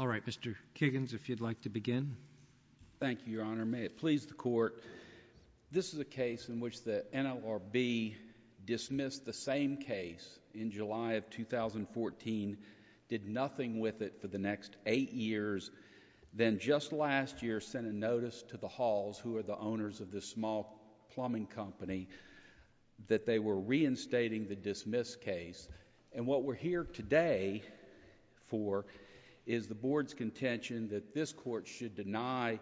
All right, Mr. Kiggins, if you'd like to begin. Thank you, Your Honor. May it please the Court, this is a case in which the NLRB dismissed the same case in July of 2014, did nothing with it for the next eight years, then just last year sent a notice to the Halls, who are the owners of this small plumbing company, that they were reinstating the dismissed case. And what we're here today for is the Board's contention that this Court should deny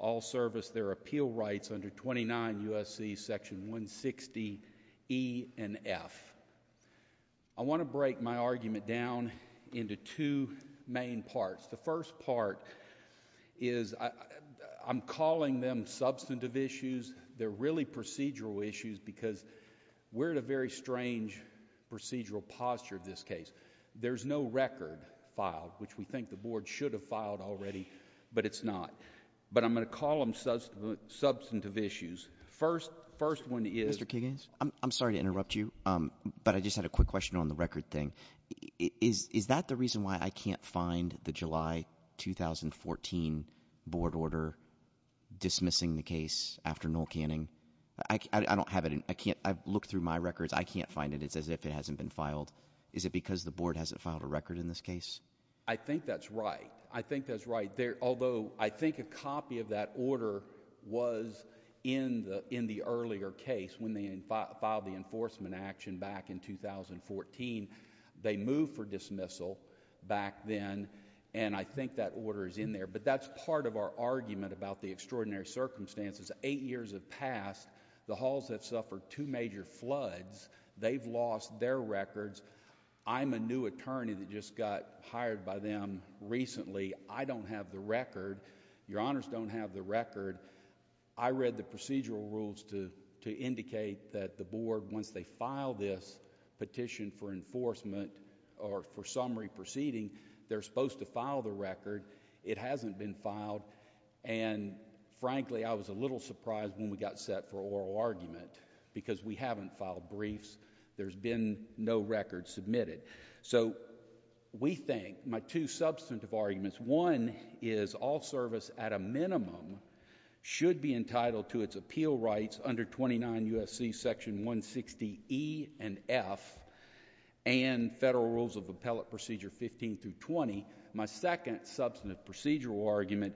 Allservice their appeal rights under 29 U.S.C. section 160 E and F. I want to break my argument down into two main parts. The first part is I'm calling them substantive issues, they're really procedural issues because we're at a very strange procedural posture in this case. There's no record filed, which we think the Board should have filed already, but it's not. But I'm going to call them substantive issues. First one is... Mr. Kiggins, I'm sorry to interrupt you, but I just had a quick question on the record thing. Is that the reason why I can't find the July 2014 Board order dismissing the case after Noel Canning? I don't have it. I can't... I've looked through my records. I can't find it. It's as if it hasn't been filed. Is it because the Board hasn't filed a record in this case? I think that's right. I think that's right. Although I think a copy of that order was in the earlier case when they filed the enforcement action back in 2014. They moved for dismissal back then, and I think that order is in there. But that's part of our argument about the extraordinary circumstances. Eight years have passed. The halls have suffered two major floods. They've lost their records. I'm a new attorney that just got hired by them recently. I don't have the record. Your Honors don't have the record. I read the procedural rules to indicate that the Board, once they file this petition for enforcement or for summary proceeding, they're supposed to file the record. It hasn't been filed. And frankly, I was a little surprised when we got set for oral argument because we haven't filed briefs. There's been no records submitted. So we think my two substantive arguments, one is all service at a minimum should be entitled to its appeal rights under 29 U.S.C. section 160E and F and federal rules of appellate procedure 15 through 20. My second substantive procedural argument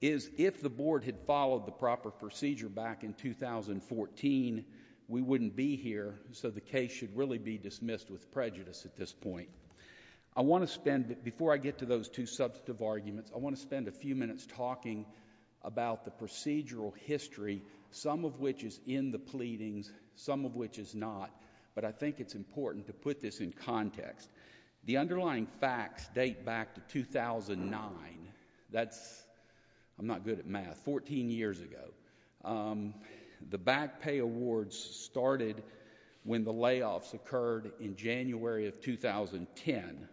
is if the Board had followed the proper procedure back in 2014, we wouldn't be here. So the case should really be dismissed with prejudice at this point. I want to spend, before I get to those two substantive arguments, I want to spend a few minutes talking about the procedural history, some of which is in the pleadings, some of which is not. But I think it's important to put this in context. The underlying facts date back to 2009. That's, I'm not good at math, 14 years ago. The back pay awards started when the layoffs occurred in January of 2010.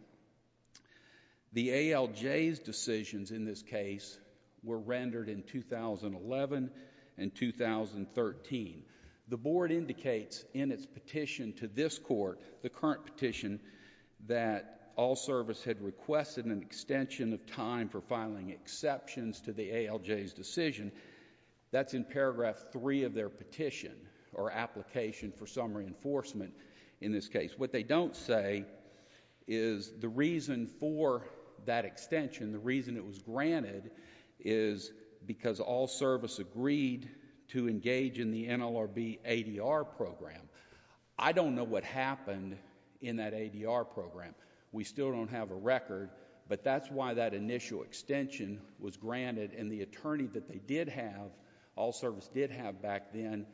The ALJ's decisions in this case were rendered in 2011 and 2013. The Board indicates in its petition to this court, the current petition, that all service had requested an extension of time for filing exceptions to the ALJ's decision. That's in paragraph three of their petition or application for some reinforcement in this case. What they don't say is the reason for that extension, the reason it was granted is because all service agreed to engage in the NLRB ADR program. I don't know what happened in that ADR program. We still don't have a record, but that's why that initial extension was granted and the attorney that they did have, all service did have back then,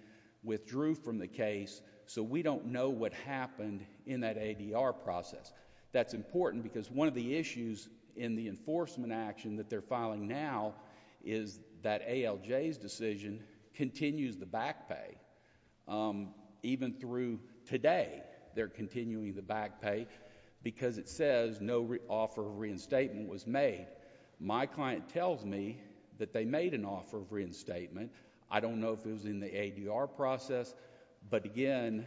withdrew from the case. So we don't know what happened in that ADR process. That's important because one of the issues in the enforcement action that they're filing now is that ALJ's decision continues the back pay. Even through today, they're continuing the back pay because it says no offer of reinstatement was made. My client tells me that they made an offer of reinstatement. I don't know if it was in the ADR process, but again,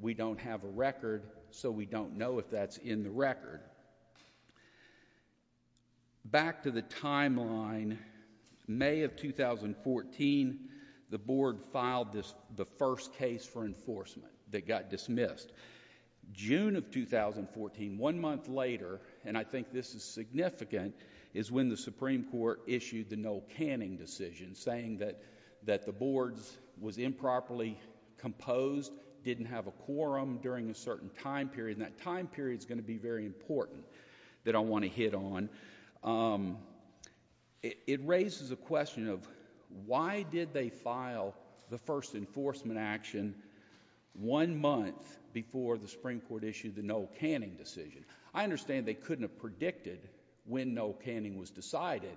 we don't have a record, so we don't know if that's in the record. All right. Back to the timeline, May of 2014, the board filed the first case for enforcement that got dismissed. June of 2014, one month later, and I think this is significant, is when the Supreme Court issued the Noel Canning decision saying that the board was improperly composed, didn't have a quorum during a certain time period, and that time period is going to be very important that I want to hit on. It raises a question of why did they file the first enforcement action one month before the Supreme Court issued the Noel Canning decision? I understand they couldn't have predicted when Noel Canning was decided,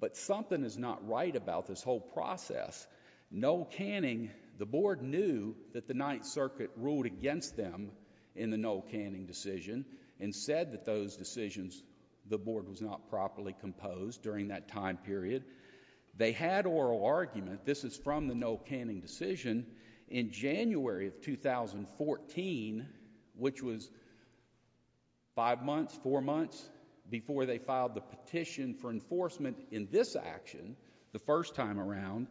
but something is not right about this whole process. Noel Canning, the board knew that the Ninth Circuit ruled against them in the Noel Canning decision and said that those decisions, the board was not properly composed during that time period. They had oral argument, this is from the Noel Canning decision, in January of 2014, which was five months, four months before they filed the petition for enforcement in this action, the first time around,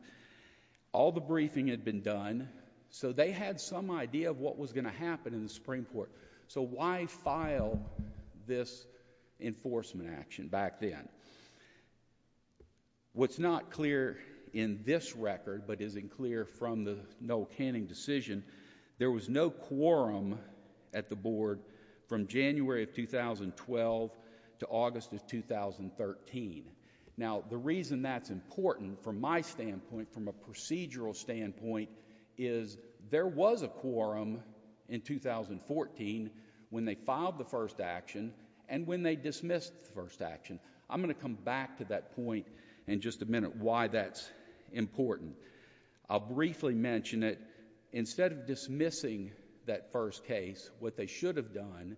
all the briefing had been done, so they had some idea of what was going to happen in the Supreme Court. So why file this enforcement action back then? What's not clear in this record, but is clear from the Noel Canning decision, there was no quorum at the board from January of 2012 to August of 2013. Now the reason that's important from my standpoint, from a procedural standpoint, is there was a quorum in 2014 when they filed the first action and when they dismissed the first action. I'm going to come back to that point in just a minute, why that's important. I'll briefly mention it, instead of dismissing that first case, what they should have done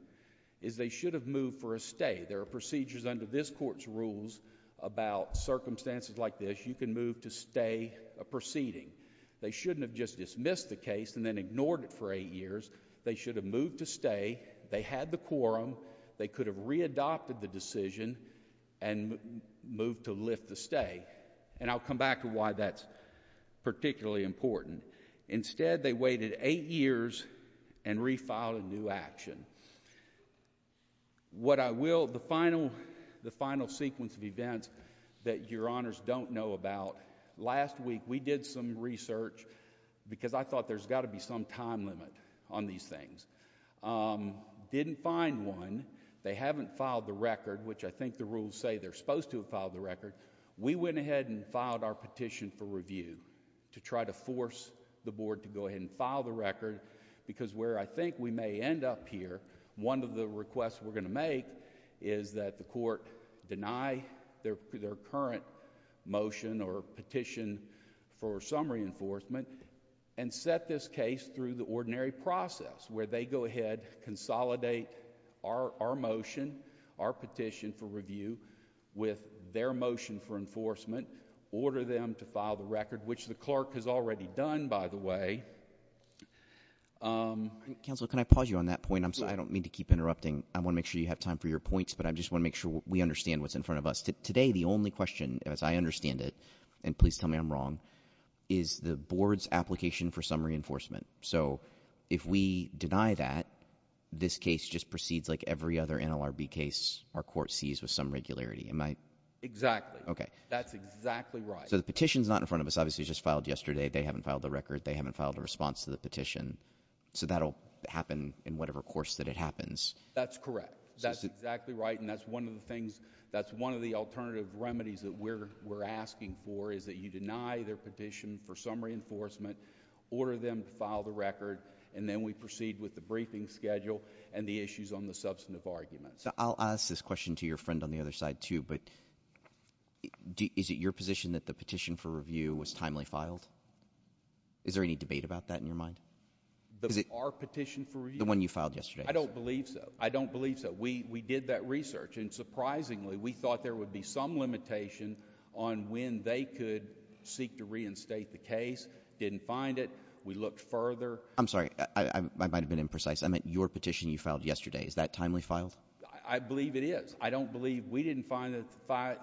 is they should have moved for a stay. There are procedures under this court's rules about circumstances like this, you can move to stay a proceeding. They shouldn't have just dismissed the case and then ignored it for eight years. They should have moved to stay, they had the quorum, they could have readopted the decision and moved to lift the stay. And I'll come back to why that's particularly important. Instead they waited eight years and refiled a new action. What I will, the final sequence of events that your honors don't know about, last week we did some research because I thought there's got to be some time limit on these things. Didn't find one, they haven't filed the record, which I think the rules say they're supposed to have filed the record, we went ahead and filed our petition for review to try to force the board to go ahead and file the record because where I think we may end up here, one of the requests we're going to make is that the court deny their current motion or petition for some reinforcement and set this case through the ordinary process where they go ahead, consolidate our motion, our petition for review with their motion for enforcement, order them to file the record, which the clerk has already done, by the way. Counselor, can I pause you on that point? I don't mean to keep interrupting. I want to make sure you have time for your points, but I just want to make sure we understand what's in front of us. Today the only question, as I understand it, and please tell me I'm wrong, is the board's application for some reinforcement. So if we deny that, this case just proceeds like every other NLRB case our court sees with some regularity. Am I? Exactly. Okay. That's exactly right. So the petition's not in front of us. Obviously it was just filed yesterday. They haven't filed the record. They haven't filed a response to the petition. So that'll happen in whatever course that it happens. That's correct. That's exactly right, and that's one of the things, that's one of the alternative remedies that we're asking for is that you deny their petition for some reinforcement, order them to file the record, and then we proceed with the briefing schedule and the issues on the substantive arguments. I'll ask this question to your friend on the other side too, but is it your position that the petition for review was timely filed? Is there any debate about that in your mind? The our petition for review? The one you filed yesterday. I don't believe so. I don't believe so. We did that research, and surprisingly we thought there would be some limitation on when they could seek to reinstate the case. Didn't find it. We looked further. I'm sorry. I might have been imprecise. I meant your petition you filed yesterday. Is that timely filed? I believe it is. I don't believe, we didn't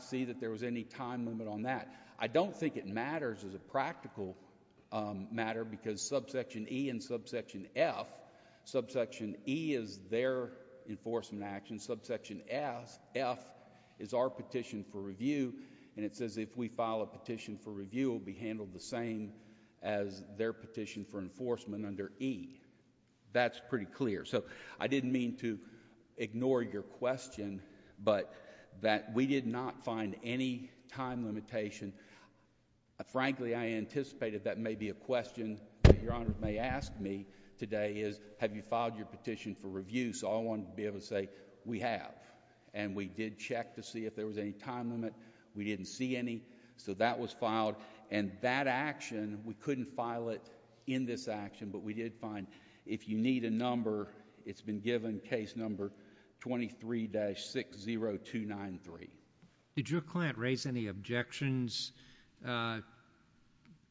see that there was any time limit on that. I don't think it matters as a practical matter because subsection E and subsection F, subsection E is their enforcement action, subsection F is our petition for review, and it says if we file a petition for review, it will be handled the same as their petition for enforcement under E. That's pretty clear. So I didn't mean to ignore your question, but that we did not find any time limitation. Frankly, I anticipated that may be a question that your Honor may ask me today is have you filed your petition for review? So I wanted to be able to say we have, and we did check to see if there was any time limit. We didn't see any, so that was filed, and that action, we couldn't file it in this action, but we did find if you need a number, it's been given, case number 23-60293. Did your client raise any objections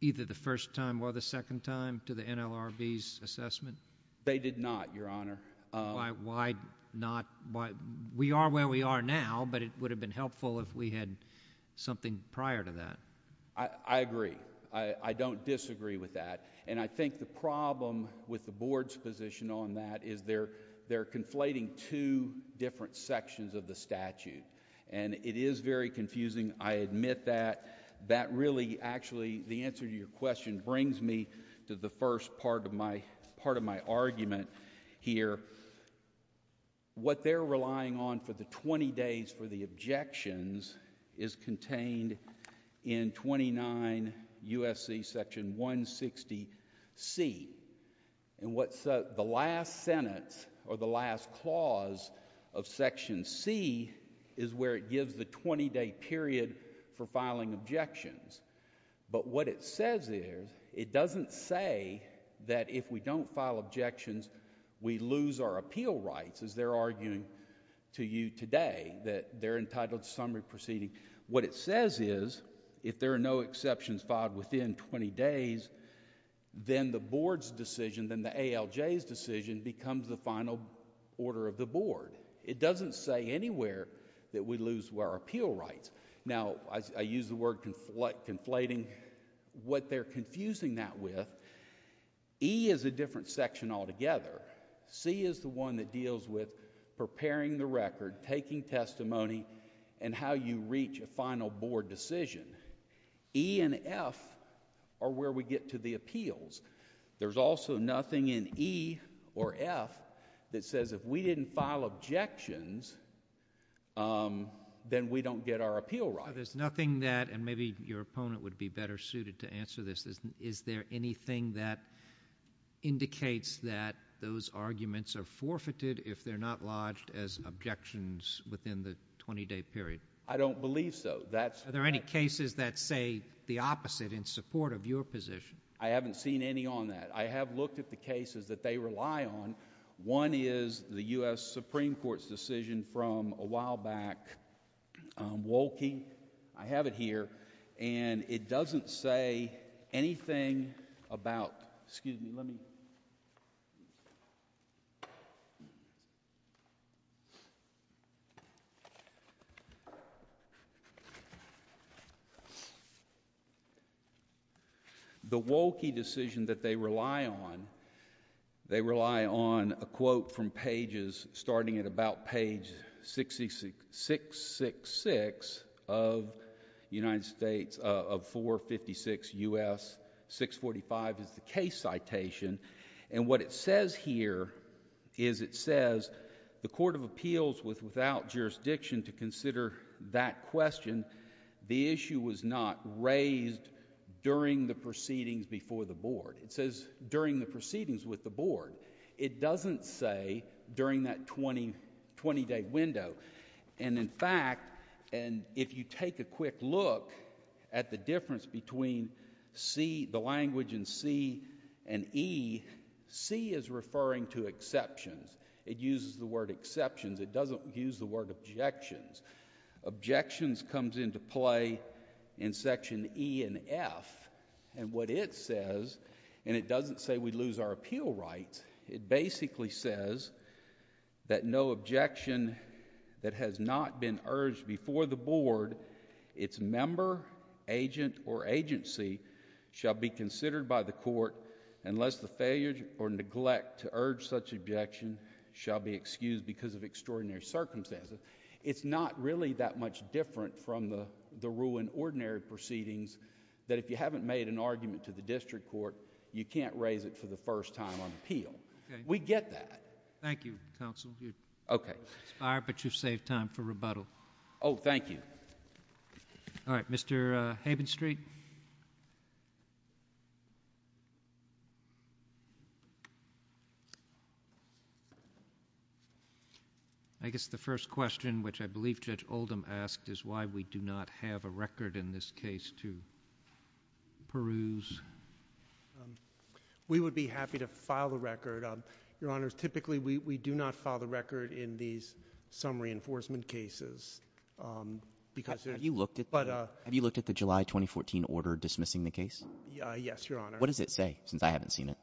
either the first time or the second time to the NLRB's assessment? They did not, Your Honor. Why not? We are where we are now, but it would have been helpful if we had something prior to that. I agree. I don't disagree with that, and I think the problem with the Board's position on that is they're conflating two different sections of the statute, and it is very confusing. I admit that. That really actually, the answer to your question brings me to the first part of my argument here. What they're relying on for the 20 days for the objections is contained in 29 U.S.C. Section 160C, and what's the last sentence or the last clause of Section C is where it gives the 20-day period for filing objections, but what it says is it doesn't say that if we don't file objections, we lose our appeal rights, as they're arguing to you today, that they're entitled to summary proceeding. What it says is if there are no exceptions filed within 20 days, then the Board's decision, then the ALJ's decision becomes the final order of the Board. It doesn't say anywhere that we lose our appeal rights. Now, I use the word conflating. What they're confusing that with, E is a different section altogether. C is the one that deals with preparing the record, taking testimony, and how you reach a final Board decision. E and F are where we get to the appeals. There's also nothing in E or F that says if we didn't file objections, then we don't get our appeal rights. There's nothing that, and maybe your opponent would be better suited to answer this, is there anything that indicates that those arguments are forfeited if they're not lodged as objections within the 20-day period? I don't believe so. Are there any cases that say the opposite in support of your position? I haven't seen any on that. I have looked at the cases that they rely on. One is the U.S. Supreme Court's decision from a while back, Wohlke. I have it here, and it doesn't say anything about, excuse me, let me... The Wohlke decision that they rely on, they rely on a quote from pages starting at about page 666 of United States, of 456 U.S. 645 is the case citation, and what it says here is it says, the Court of Appeals without jurisdiction to consider that question, the issue was not raised during the proceedings before the Board. It says during the proceedings with the Board. It doesn't say during that 20-day window, and in fact, if you take a quick look at the word exceptions, it uses the word exceptions. It doesn't use the word objections. Objections comes into play in section E and F, and what it says, and it doesn't say we lose our appeal rights, it basically says that no objection that has not been urged before the Board, its member, agent, or agency shall be considered by the Court unless the objection shall be excused because of extraordinary circumstances. It's not really that much different from the rule in ordinary proceedings that if you haven't made an argument to the district court, you can't raise it for the first time on appeal. We get that. Thank you, counsel. Okay. Mr. Beyer, but you've saved time for rebuttal. Oh, thank you. All right, Mr. Havenstreet. I guess the first question, which I believe Judge Oldham asked, is why we do not have a record in this case to peruse. We would be happy to file the record. Your Honors, typically we do not file the record in these summary enforcement cases because... Have you looked at the July 2014 order dismissing the case? Yes, Your Honor. What does it say, since I haven't seen it?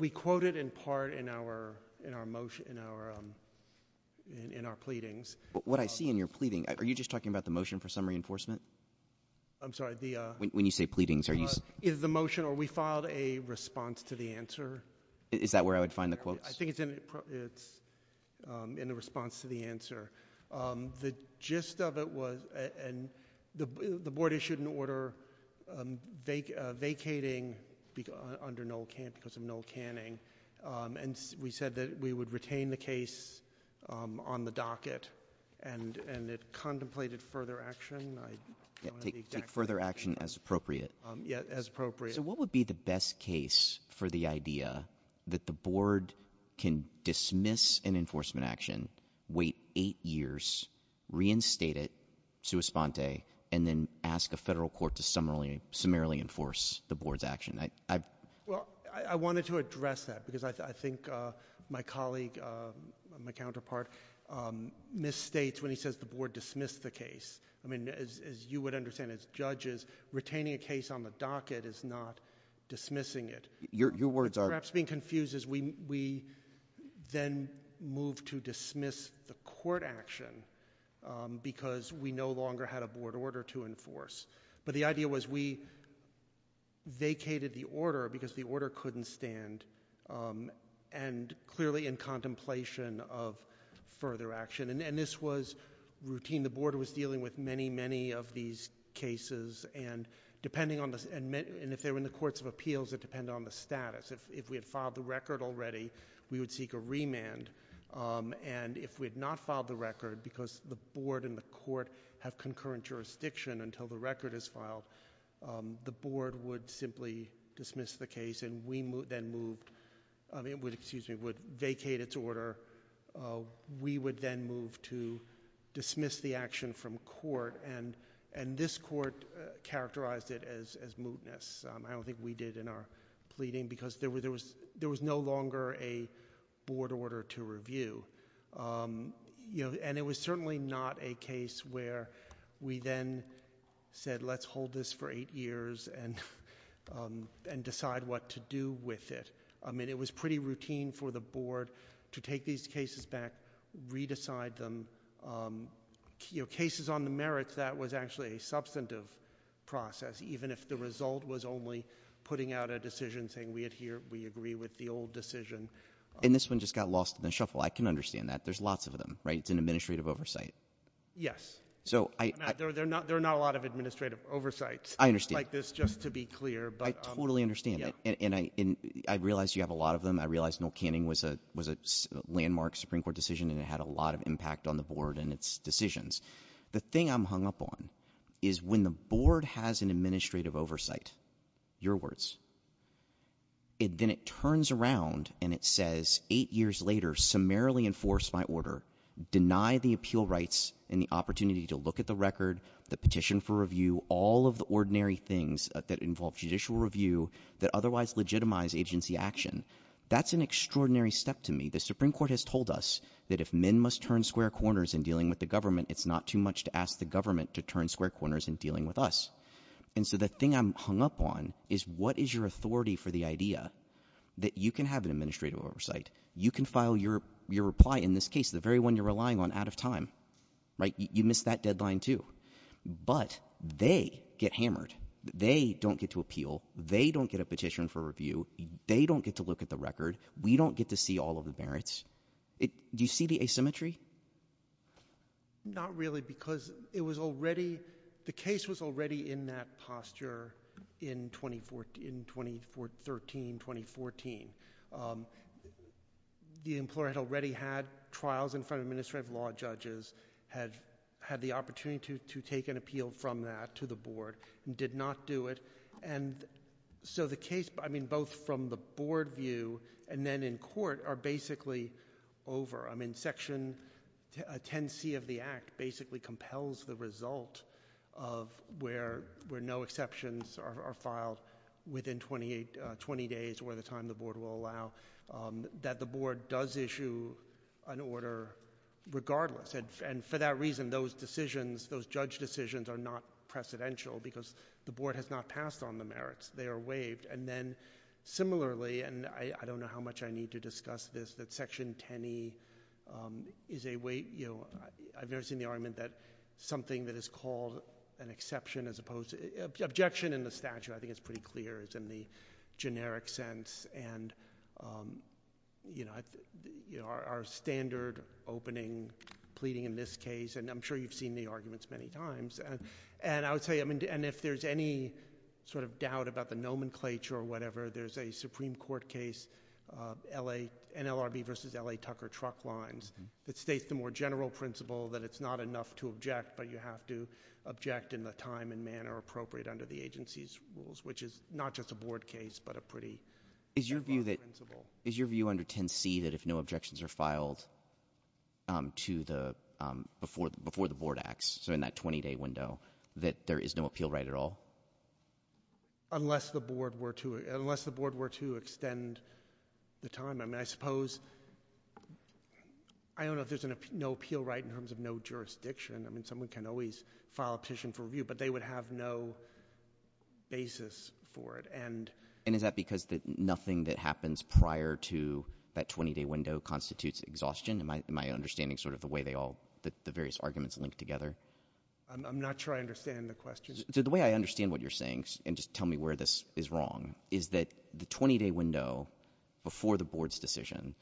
We quote it in part in our pleadings. What I see in your pleading, are you just talking about the motion for summary enforcement? I'm sorry, the... When you say pleadings, are you... The motion, or we filed a response to the answer. Is that where I would find the quotes? I think it's in the response to the answer. The gist of it was, and the Board issued an order vacating under null canning, because of null canning, and we said that we would retain the case on the docket, and it contemplated further action. I don't have the exact... Take further action as appropriate. Yes, as appropriate. What would be the best case for the idea that the Board can dismiss an enforcement action, wait eight years, reinstate it, sua sponte, and then ask a federal court to summarily enforce the Board's action? I wanted to address that, because I think my colleague, my counterpart, misstates when he says the Board dismissed the case. As you would understand, as judges, retaining a case on the docket is not dismissing it. Your words are... We dismissed the court action, because we no longer had a Board order to enforce. But the idea was we vacated the order, because the order couldn't stand, and clearly in contemplation of further action. And this was routine. The Board was dealing with many, many of these cases, and if they were in the courts of appeals, it depended on the status. If we had filed the record already, we would seek a remand, and if we had not filed the record, because the Board and the court have concurrent jurisdiction until the record is filed, the Board would simply dismiss the case, and we then moved... excuse me, would vacate its order. We would then move to dismiss the action from court, and this court characterized it as mootness. I don't think we did in our pleading, because there was no longer a Board order to review. And it was certainly not a case where we then said, let's hold this for eight years and decide what to do with it. I mean, it was pretty routine for the Board to take these cases back, re-decide them. Cases on the merits, that was actually a substantive process, even if the result was only putting out a decision saying, we adhere, we agree with the old decision. And this one just got lost in the shuffle. I can understand that. There's lots of them, right? It's an administrative oversight. Yes. There are not a lot of administrative oversights like this, just to be clear. I totally understand that, and I realize you have a lot of them. I realize Noel Canning was a landmark Supreme Court decision, and it had a lot of impact on the Board and its decisions. The thing I'm hung up on is when the Board has an administrative oversight, your words, then it turns around and it says, eight years later, summarily enforce my order, deny the appeal rights and the opportunity to look at the record, the petition for review, all of the ordinary things that involve judicial review that otherwise legitimize agency action. That's an extraordinary step to me. The Supreme Court has told us that if men must turn square corners in dealing with the government, it's not too much to ask the government to turn square corners in dealing with us. And so the thing I'm hung up on is what is your authority for the idea that you can have an administrative oversight, you can file your reply in this case, the very one you're relying on, out of time, right? You missed that deadline too. But they get hammered. They don't get to appeal. They don't get a petition for review. They don't get to look at the record. We don't get to see all of the merits. Do you see the asymmetry? Not really, because it was already, the case was already in that posture in 2013, 2014. The employer had already had trials in front of administrative law judges, had the opportunity to take an appeal from that to the board, and did not do it. And so the case, I mean, both from the board view and then in court are basically over. I mean, Section 10C of the Act basically compels the result of where no exceptions are filed within 20 days, or the time the board will allow, that the board does issue an order regardless. And for that reason, those decisions, those judge decisions are not precedential, because the board has not passed on the merits. They are waived. And then similarly, and I don't know how much I need to discuss this, that Section 10E is a way, you know, I've never seen the argument that something that is called an exception, as opposed to, objection in the statute, I think it's pretty clear, is in the generic sense. And, you know, our standard opening pleading in this case, and I'm sure you've seen the arguments many times. And I would say, I mean, and if there's any sort of doubt about the nomenclature or whatever, there's a Supreme Court case, NLRB versus L.A. Tucker Truck Lines, that states the more general principle that it's not enough to object, but you have to object in the time and manner appropriate under the agency's rules, which is not just a board case, but a pretty simple principle. Is your view under 10C that if no objections are filed to the, before the board acts, so in that 20-day window, that there is no appeal right at all? Unless the board were to extend the time. I mean, I suppose, I don't know if there's no appeal right in terms of no jurisdiction. I mean, someone can always file a petition for review, but they would have no basis for it. And is that because nothing that happens prior to that 20-day window constitutes exhaustion? Am I understanding sort of the way they all, the various arguments link together? I'm not sure I understand the question. So the way I understand what you're saying, and just tell me where this is wrong, is that the 20-day window before the board's decision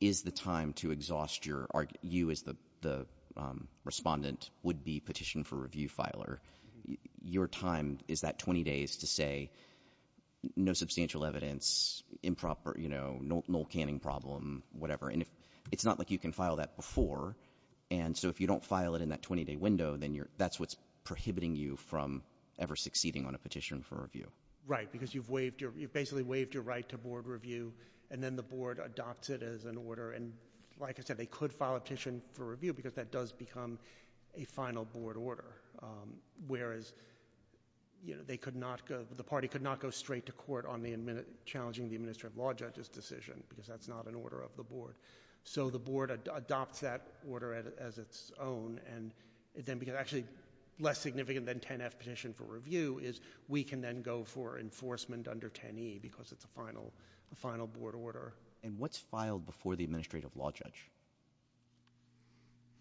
is the time to exhaust your, you as the respondent would be petition for review filer. Your time is that 20 days to say no substantial evidence, improper, you know, null canning problem, whatever. And if, it's not like you can file that before. And so if you don't file it in that 20-day window, then you're, that's what's prohibiting you from ever succeeding on a petition for review. Right, because you've waived your, you've basically waived your right to board review. And then the board adopts it as an order. And like I said, they could file a petition for review because that does become a final board order. Whereas, you know, they could not go, the party could not go straight to court on the, challenging the administrative law judge's decision because that's not an order of the board. So the board adopts that order as its own. And then, because actually less significant than 10-F petition for review is, we can then go for enforcement under 10-E because it's a final, a final board order. And what's filed before the administrative law judge?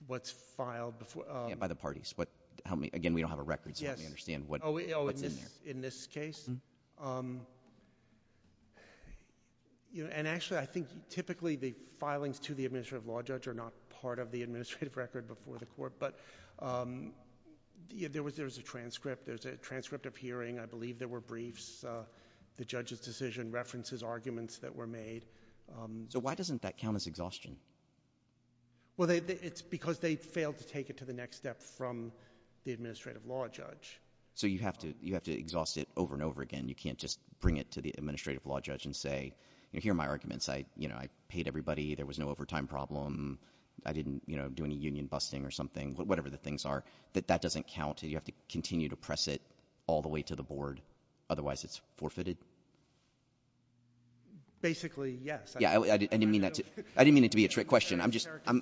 What's filed before? Yeah, by the parties. What, help me. Again, we don't have a record, so let me understand what's in there. In this case? Mm-hm. And actually, I think typically the filings to the administrative law judge are not part of the administrative record before the court. But there was a transcript. There's a transcript of hearing. I believe there were briefs. The judge's decision references arguments that were made. So why doesn't that count as exhaustion? Well, they, it's because they failed to take it to the next step from the administrative law judge. So you have to, you have to exhaust it over and over again. You can't just bring it to the administrative law judge and say, you know, here are my arguments. I, you know, I paid everybody. There was no overtime problem. I didn't, you know, do any union busting or something, whatever the things are. That that doesn't count. You have to continue to press it all the way to the board. Otherwise, it's forfeited. Basically, yes. Yeah, I didn't mean that to, I didn't mean it to be a trick question. I'm just, I'm.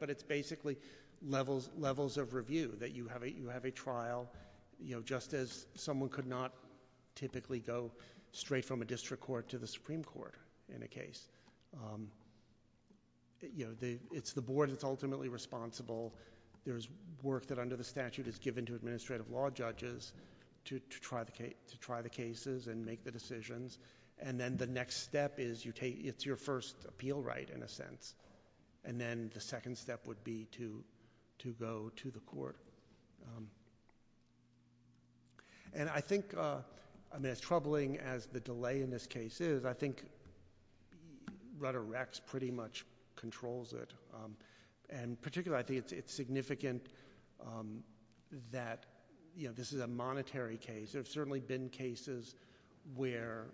But it's basically levels, levels of review that you have a, you have a trial, you know, just as someone could not typically go straight from a district court to the Supreme Court in a case. You know, the, it's the board that's ultimately responsible. There's work that under the statute is given to administrative law judges to, to try the case, to try the cases and make the decisions. And then the next step is you take, it's your first appeal right in a sense. And then the second step would be to, to go to the court. And I think, I mean, as troubling as the delay in this case is, I think Rutter-Rex pretty much controls it. And particularly, I think it's, it's significant that, you know, this is a monetary case. There have certainly been cases where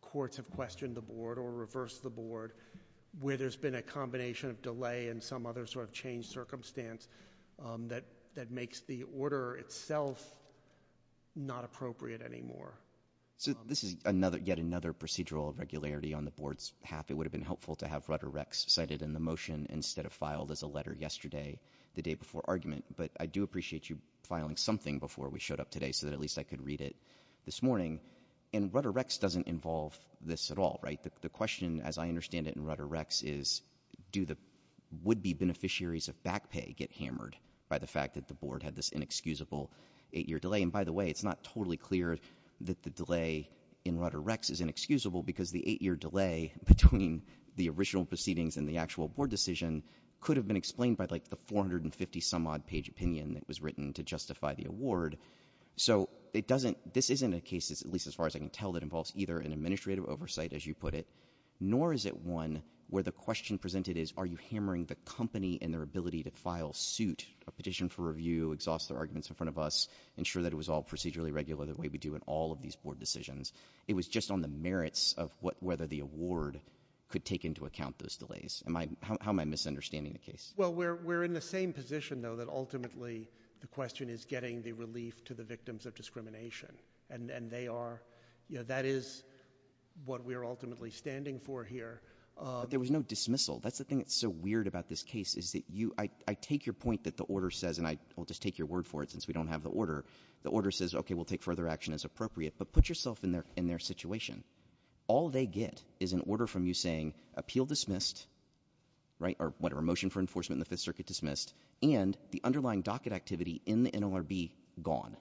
courts have questioned the board or reversed the board where there's been a combination of delay and some other sort of changed circumstance that, that makes the order itself not appropriate anymore. So this is another, yet another procedural irregularity on the board's half. It would have been helpful to have Rutter-Rex cited in the motion instead of filed as a letter yesterday, the day before argument. But I do appreciate you filing something before we showed up today so that at least I could read it this morning. And Rutter-Rex doesn't involve this at all, right? The question, as I understand it, in Rutter-Rex is, do the would-be beneficiaries of back pay get hammered by the fact that the board had this inexcusable eight-year delay? And by the way, it's not totally clear that the delay in Rutter-Rex is inexcusable, because the eight-year delay between the original proceedings and the actual board decision could have been explained by, like, the 450-some-odd page opinion that was written to justify the award. So it doesn't, this isn't a case, at least as far as I can tell, that involves either an administrative oversight, as you put it, nor is it one where the question presented is, are you hammering the company and their ability to file suit, a petition for review, exhaust their arguments in front of us, ensure that it was all procedurally regular the way we do in all of these board decisions? It was just on the merits of whether the award could take into account those delays. How am I misunderstanding the case? Well, we're in the same position, though, that ultimately the question is getting the relief to the victims of discrimination. And they are, you know, that is what we are ultimately standing for here. There was no dismissal. That's the thing that's so weird about this case, is that you, I take your point that the order says, and I will just take your word for it since we don't have the order. The order says, okay, we'll take further action as appropriate. But put yourself in their situation. All they get is an order from you saying, appeal dismissed, right, or whatever, motion for enforcement in the Fifth Circuit dismissed, and the underlying docket activity in the NLRB gone.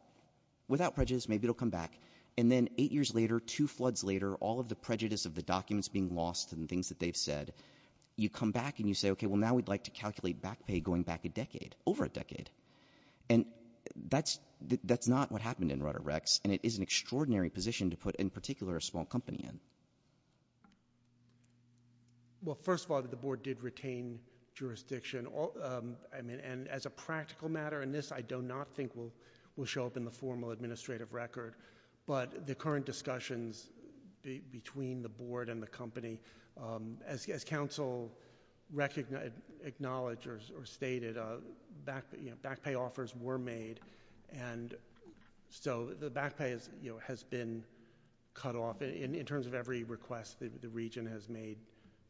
Without prejudice, maybe it'll come back. And then eight years later, two floods later, all of the prejudice of the documents being lost and things that they've said, you come back and you say, okay, well, now we'd like to calculate back pay going back a decade, over a decade. And that's not what happened in Rutter-Rex, and it is an extraordinary position to put, in particular, a small company in. Well, first of all, the board did retain jurisdiction, and as a practical matter, and this I do not think will show up in the formal administrative record, but the current discussions between the board and the company, as counsel acknowledged or stated, back pay offers were made. And so the back pay has been cut off, in terms of every request the region has made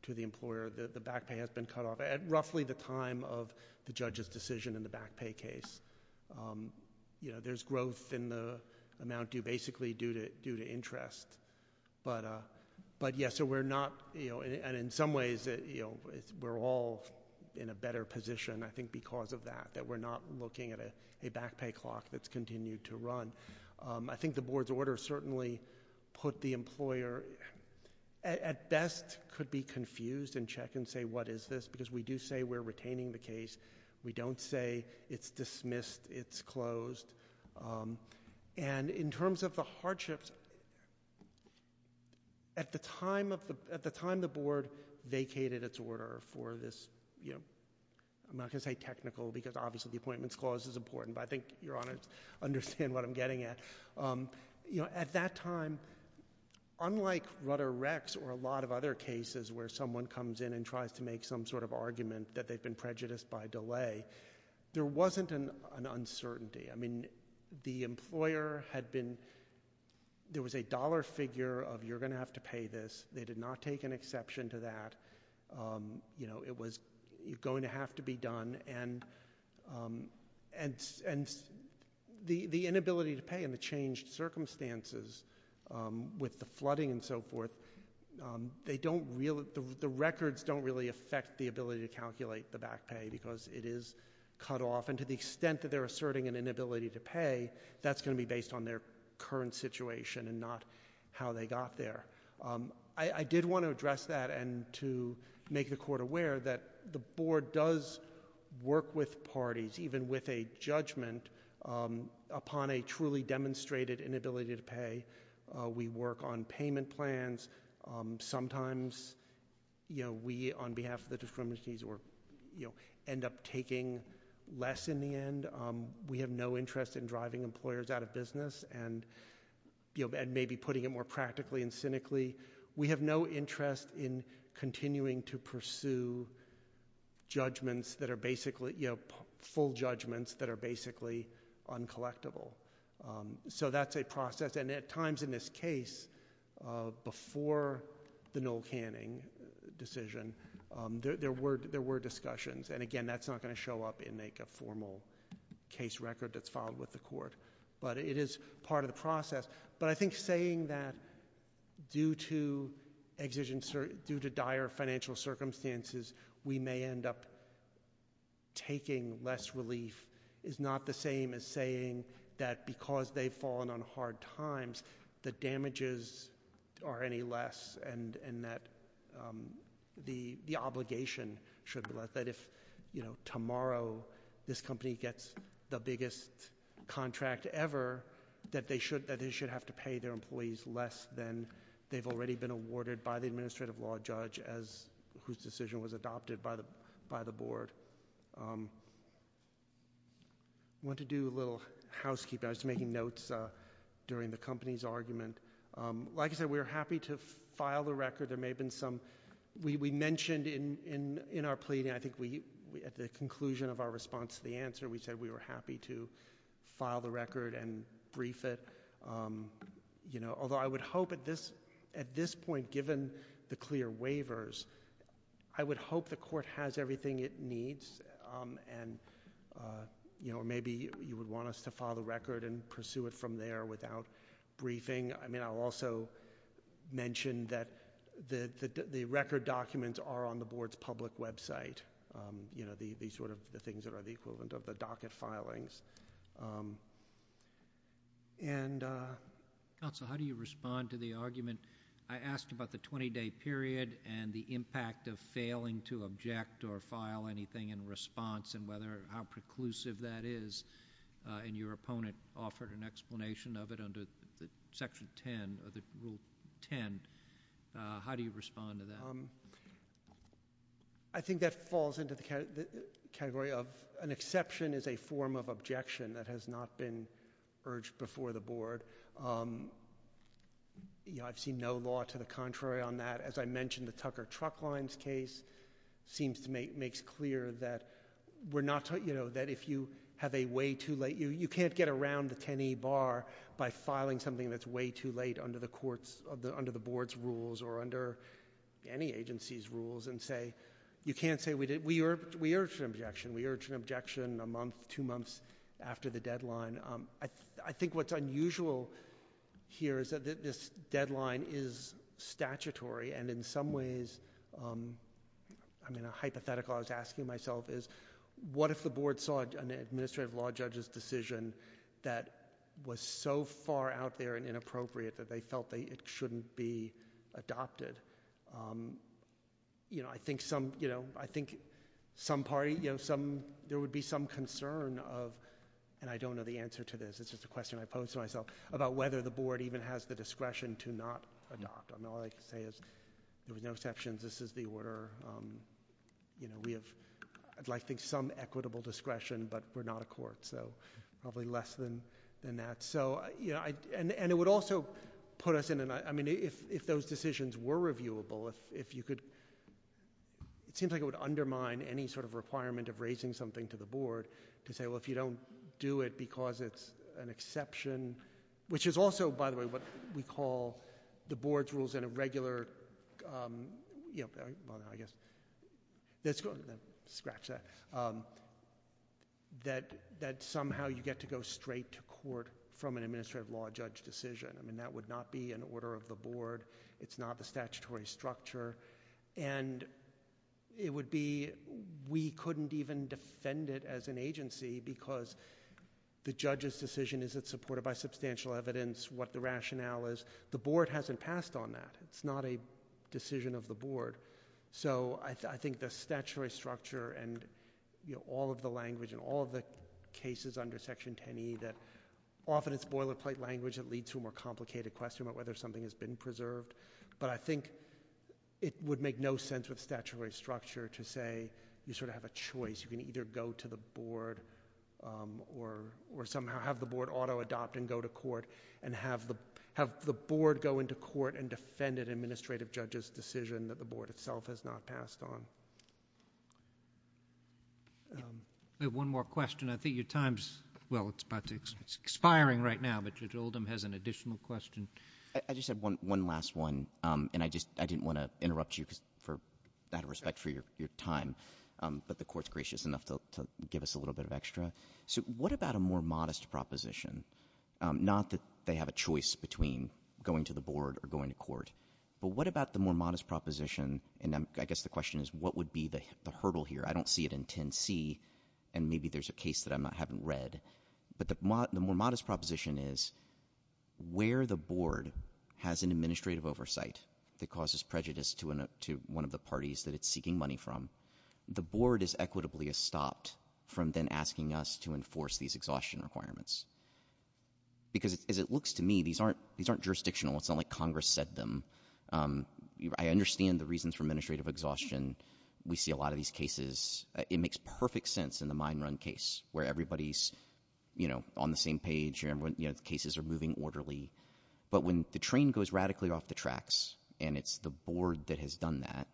to the employer, the back pay has been cut off at roughly the time of the judge's decision in the back pay case. There's growth in the amount due, basically due to interest. But yes, so we're not, and in some ways, we're all in a better position, I think, because of that, that we're not looking at a back pay clock that's continued to run. I think the board's order certainly put the employer, at best, could be confused and check and say, what is this, because we do say we're retaining the case. We don't say it's dismissed, it's closed. And in terms of the hardships, at the time the board vacated its order for this, I'm not going to say technical, because obviously the appointments clause is important, but I think your honors understand what I'm getting at. At that time, unlike Rutter-Rex or a lot of other cases where someone comes in and they've been prejudiced by delay, there wasn't an uncertainty. I mean, the employer had been, there was a dollar figure of you're going to have to pay this. They did not take an exception to that. It was going to have to be done. And the inability to pay and the changed circumstances with the flooding and so forth, the records don't really affect the ability to calculate the back pay because it is cut off. And to the extent that they're asserting an inability to pay, that's going to be based on their current situation and not how they got there. I did want to address that and to make the court aware that the board does work with parties, even with a judgment, upon a truly demonstrated inability to pay. We work on payment plans. Sometimes we, on behalf of the discriminanties, end up taking less in the end. We have no interest in driving employers out of business and maybe putting it more practically and cynically. We have no interest in continuing to pursue judgments that are basically, full judgments that are basically uncollectible. So that's a process. And at times in this case, before the Noel Canning decision, there were discussions. And again, that's not going to show up in a formal case record that's filed with the court. But it is part of the process. But I think saying that due to dire financial circumstances, we may end up taking less relief is not the same as saying that because they've fallen on hard times, the damages are any less and that the obligation should be less. That if tomorrow this company gets the biggest contract ever, that they should have to pay their employees less than they've already been awarded by the administrative law judge, whose decision was adopted by the board. I want to do a little housekeeping. I was making notes during the company's argument. Like I said, we're happy to file the record. There may have been some, we mentioned in our pleading, I think at the conclusion of our response to the answer, we said we were happy to file the record and brief it. Although I would hope at this point, given the clear waivers, I would hope the court has everything it needs. And maybe you would want us to file the record and pursue it from there without briefing. I mean, I'll also mention that the record documents are on the board's public website. These sort of things that are the equivalent of the docket filings. And- Counsel, how do you respond to the argument? I asked about the 20-day period and the impact of failing to object or file anything in response and whether, how preclusive that is, and your opponent offered an explanation of it under Section 10, or the Rule 10. How do you respond to that? I think that falls into the category of an exception is a form of objection that has not been urged before the board. I've seen no law to the contrary on that. As I mentioned, the Tucker Truck Lines case seems to make, makes clear that we're not, that if you have a way too late, you can't get around the 10E bar by filing something that's way too late under the court's, under the board's rules or under any agency's rules and say, you can't say we did, we urge an objection. We urge an objection a month, two months after the deadline. I think what's unusual here is that this deadline is statutory and in some ways, I mean, a hypothetical I was asking myself is what if the board saw an administrative law judge's decision that was so far out there and inappropriate that they felt that it shouldn't be adopted? You know, I think some, you know, I think some party, you know, some, there would be some concern of, and I don't know the answer to this, it's just a question I posed to myself, about whether the board even has the discretion to not adopt. I mean, all I can say is there was no exceptions. This is the order. You know, we have, I'd like to think some equitable discretion, but we're not a court. So probably less than that. So, you know, and it would also put us in an, I mean, if those decisions were reviewable, if you could, it seems like it would undermine any sort of requirement of raising something to the board to say, well, if you don't do it because it's an exception, which is also, by the way, what we call the board's rules in a regular, you know, I guess, that's, scratch that, that somehow you get to go straight to court from an administrative law judge decision. I mean, that would not be an order of the board. It's not the statutory structure, and it would be, we couldn't even defend it as an agency because the judge's decision isn't supported by substantial evidence, what the rationale is. The board hasn't passed on that. It's not a decision of the board. So I think the statutory structure and, you know, all of the language and all of the cases under Section 10e that often it's boilerplate language that leads to a more complicated question about whether something has been preserved, but I think it would make no sense with statutory structure to say you sort of have a choice. You can either go to the board or somehow have the board auto-adopt and go to court and have the board go into court and defend an administrative judge's decision that the board itself has not passed on. We have one more question. I think your time's, well, it's about to, it's expiring right now, but Judge Oldham has an additional question. I just have one last one, and I just, I didn't want to interrupt you for, out of respect for your time, but the court's gracious enough to give us a little bit of extra. So what about a more modest proposition? But what about the more modest proposition, and I guess the question is what would be the hurdle here? I don't see it in 10c, and maybe there's a case that I haven't read. But the more modest proposition is where the board has an administrative oversight that causes prejudice to one of the parties that it's seeking money from, the board is equitably stopped from then asking us to enforce these exhaustion requirements. Because as it looks to me, these aren't jurisdictional. It's not like Congress said them. I understand the reasons for administrative exhaustion. We see a lot of these cases. It makes perfect sense in the mine run case where everybody's, you know, on the same page. You know, the cases are moving orderly. But when the train goes radically off the tracks, and it's the board that has done that,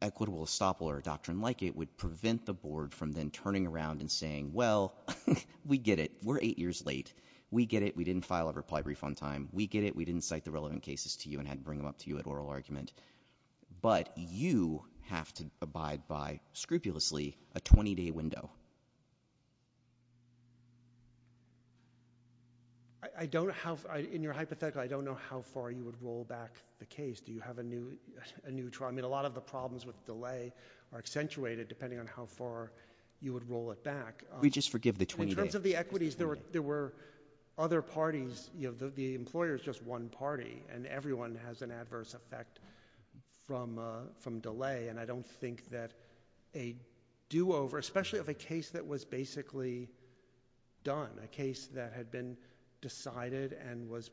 equitable estoppel or a doctrine like it would prevent the board from then turning around and saying, well, we get it. We're eight years late. We get it. We didn't file a reply refund time. We get it. We didn't cite the relevant cases to you and had to bring them up to you at oral argument. But you have to abide by, scrupulously, a 20-day window. I don't have, in your hypothetical, I don't know how far you would roll back the case. Do you have a new, I mean, a lot of the problems with delay are accentuated, depending on how far you would roll it back. We just forgive the 20 days. Because of the equities, there were other parties, you know, the employers, just one party. And everyone has an adverse effect from delay. And I don't think that a do-over, especially of a case that was basically done, a case that had been decided and was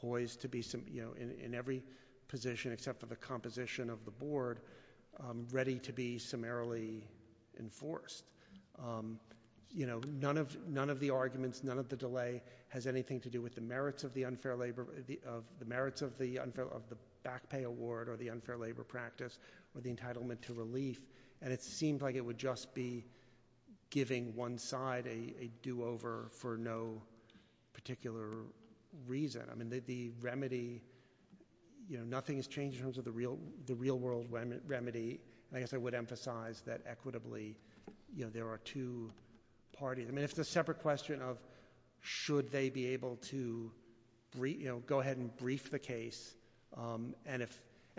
poised to be, you know, in every position, except for the composition of the board, ready to be summarily enforced. You know, none of the arguments, none of the delay has anything to do with the merits of the unfair labor, the merits of the back pay award or the unfair labor practice or the entitlement to relief. And it seemed like it would just be giving one side a do-over for no particular reason. I mean, the remedy, you know, nothing has changed in terms of the real world remedy. I guess I would emphasize that equitably, you know, there are two parties. I mean, it's a separate question of should they be able to, you know, go ahead and brief the case. And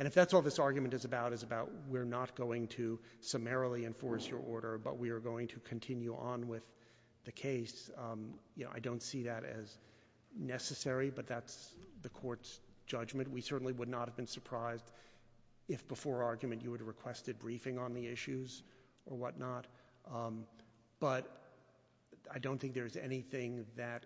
if that's all this argument is about, is about we're not going to summarily enforce your order, but we are going to continue on with the case. You know, I don't see that as necessary, but that's the court's judgment. We certainly would not have been surprised if before argument you would have requested briefing on the issues or whatnot. But I don't think there's anything that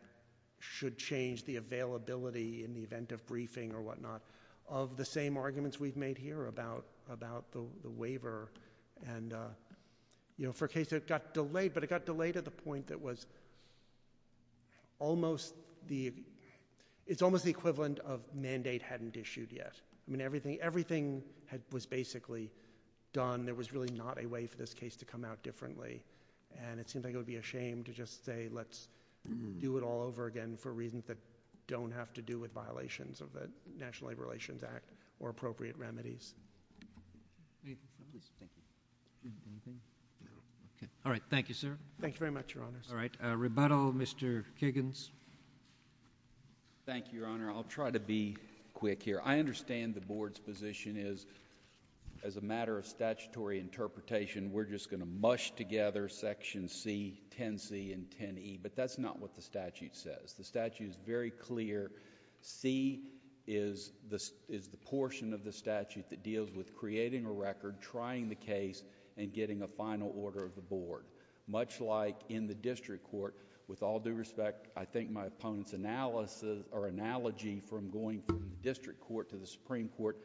should change the availability in the event of briefing or whatnot of the same arguments we've made here about the waiver. And, you know, for a case that got delayed, but it got delayed at the point that was almost the, it's almost the equivalent of mandate hadn't issued yet. I mean, everything, everything had, was basically done. There was really not a way for this case to come out differently. And it seems like it would be a shame to just say let's do it all over again for reasons that don't have to do with violations of the National Labor Relations Act or appropriate remedies. Thank you. Anything? No. Okay. All right. Thank you, sir. Thank you very much, Your Honors. All right. Rebuttal, Mr. Kiggins. Thank you, Your Honor. I'll try to be quick here. I understand the Board's position is as a matter of statutory interpretation, we're just going to mush together Section C, 10C, and 10E, but that's not what the statute says. The statute is very clear. C is the portion of the statute that deals with creating a record, trying the case, and getting a final order of the Board. Much like in the district court, with all due respect, I think my opponent's analogy from going from district court to the Supreme Court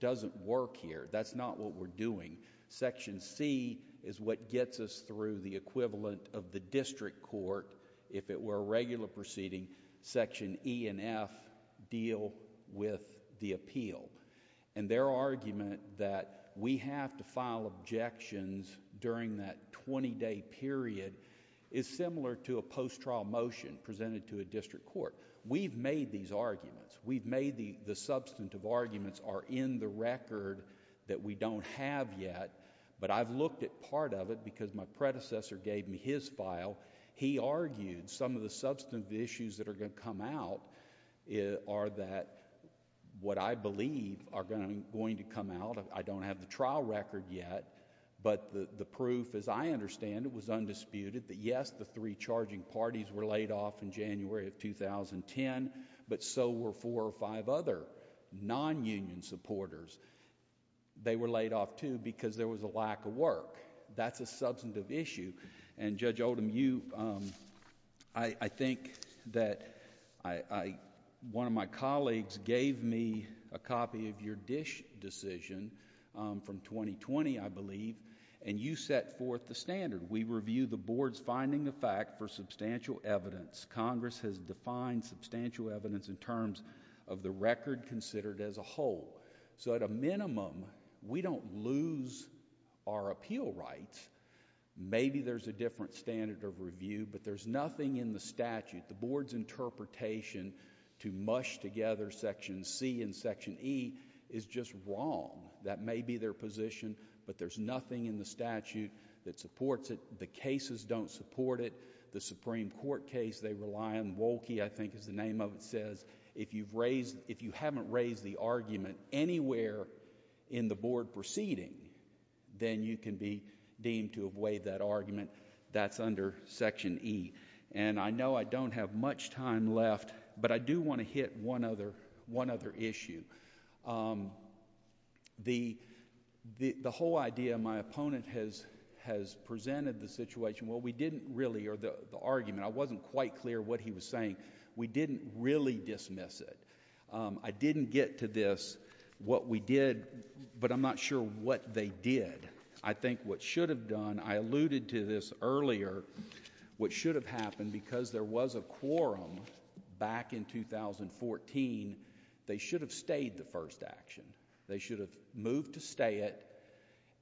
doesn't work here. That's not what we're doing. Section C is what gets us through the equivalent of the district court, if it were a regular proceeding. Section E and F deal with the appeal. And their argument that we have to file objections during that 20-day period is similar to a post-trial motion presented to a district court. We've made these arguments. We've made the substantive arguments are in the record that we don't have yet, but I've looked at part of it because my predecessor gave me his file. He argued some of the substantive issues that are going to come out are that what I believe are going to come out. I don't have the trial record yet, but the proof, as I understand it, was undisputed that, yes, the three charging parties were laid off in January of 2010, but so were four or five other non-union supporters. They were laid off, too, because there was a lack of work. That's a substantive issue. And Judge Oldham, you... I think that one of my colleagues gave me a copy of your decision from 2020, I believe, and you set forth the standard. We review the board's finding of fact for substantial evidence. Congress has defined substantial evidence in terms of the record considered as a whole. So at a minimum, we don't lose our appeal rights. Maybe there's a different standard of review, but there's nothing in the statute. The board's interpretation to mush together Section C and Section E is just wrong. That may be their position, but there's nothing in the statute that supports it. The cases don't support it. The Supreme Court case they rely on, Wolke, I think is the name of it, says, if you haven't raised the argument anywhere in the board proceeding, then you can be deemed to have weighed that argument. That's under Section E. And I know I don't have much time left, but I do want to hit one other issue. The whole idea my opponent has presented the situation, well, we didn't really, or the argument, I wasn't quite clear what he was saying. We didn't really dismiss it. I didn't get to this, what we did, but I'm not sure what they did. I think what should have done, I alluded to this earlier, what should have happened, because there was a quorum back in 2014, they should have stayed the first action. They should have moved to stay it,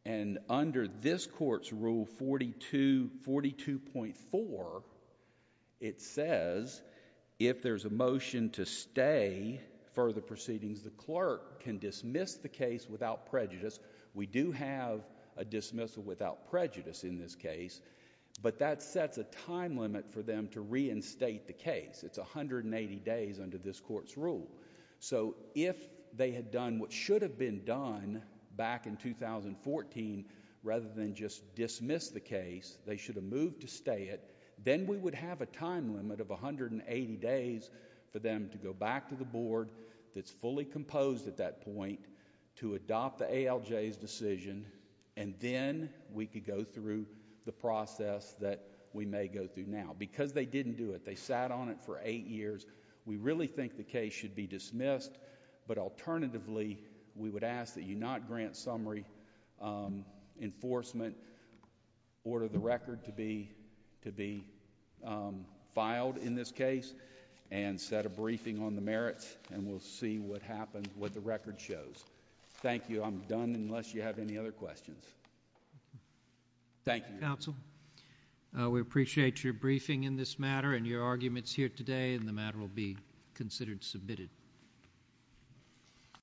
and under this court's rule 42.4, it says, if there's a motion to stay further proceedings, the clerk can dismiss the case without prejudice. We do have a dismissal without prejudice in this case, but that sets a time limit for them to reinstate the case. It's 180 days under this court's rule. So if they had done what should have been done back in 2014, rather than just dismiss the case, they should have moved to stay it, then we would have a time limit of 180 days for them to go back to the board that's fully composed at that point to adopt the ALJ's decision, and then we could go through the process that we may go through now. Because they didn't do it, they sat on it for eight years, we really think the case should be dismissed, but alternatively, we would ask that you not grant summary enforcement, order the record to be filed in this case, and set a briefing on the merits, and we'll see what happens, what the record shows. Thank you. I'm done unless you have any other questions. Thank you. Thank you, counsel. We appreciate your briefing in this matter and your arguments here today, and the matter will be considered submitted.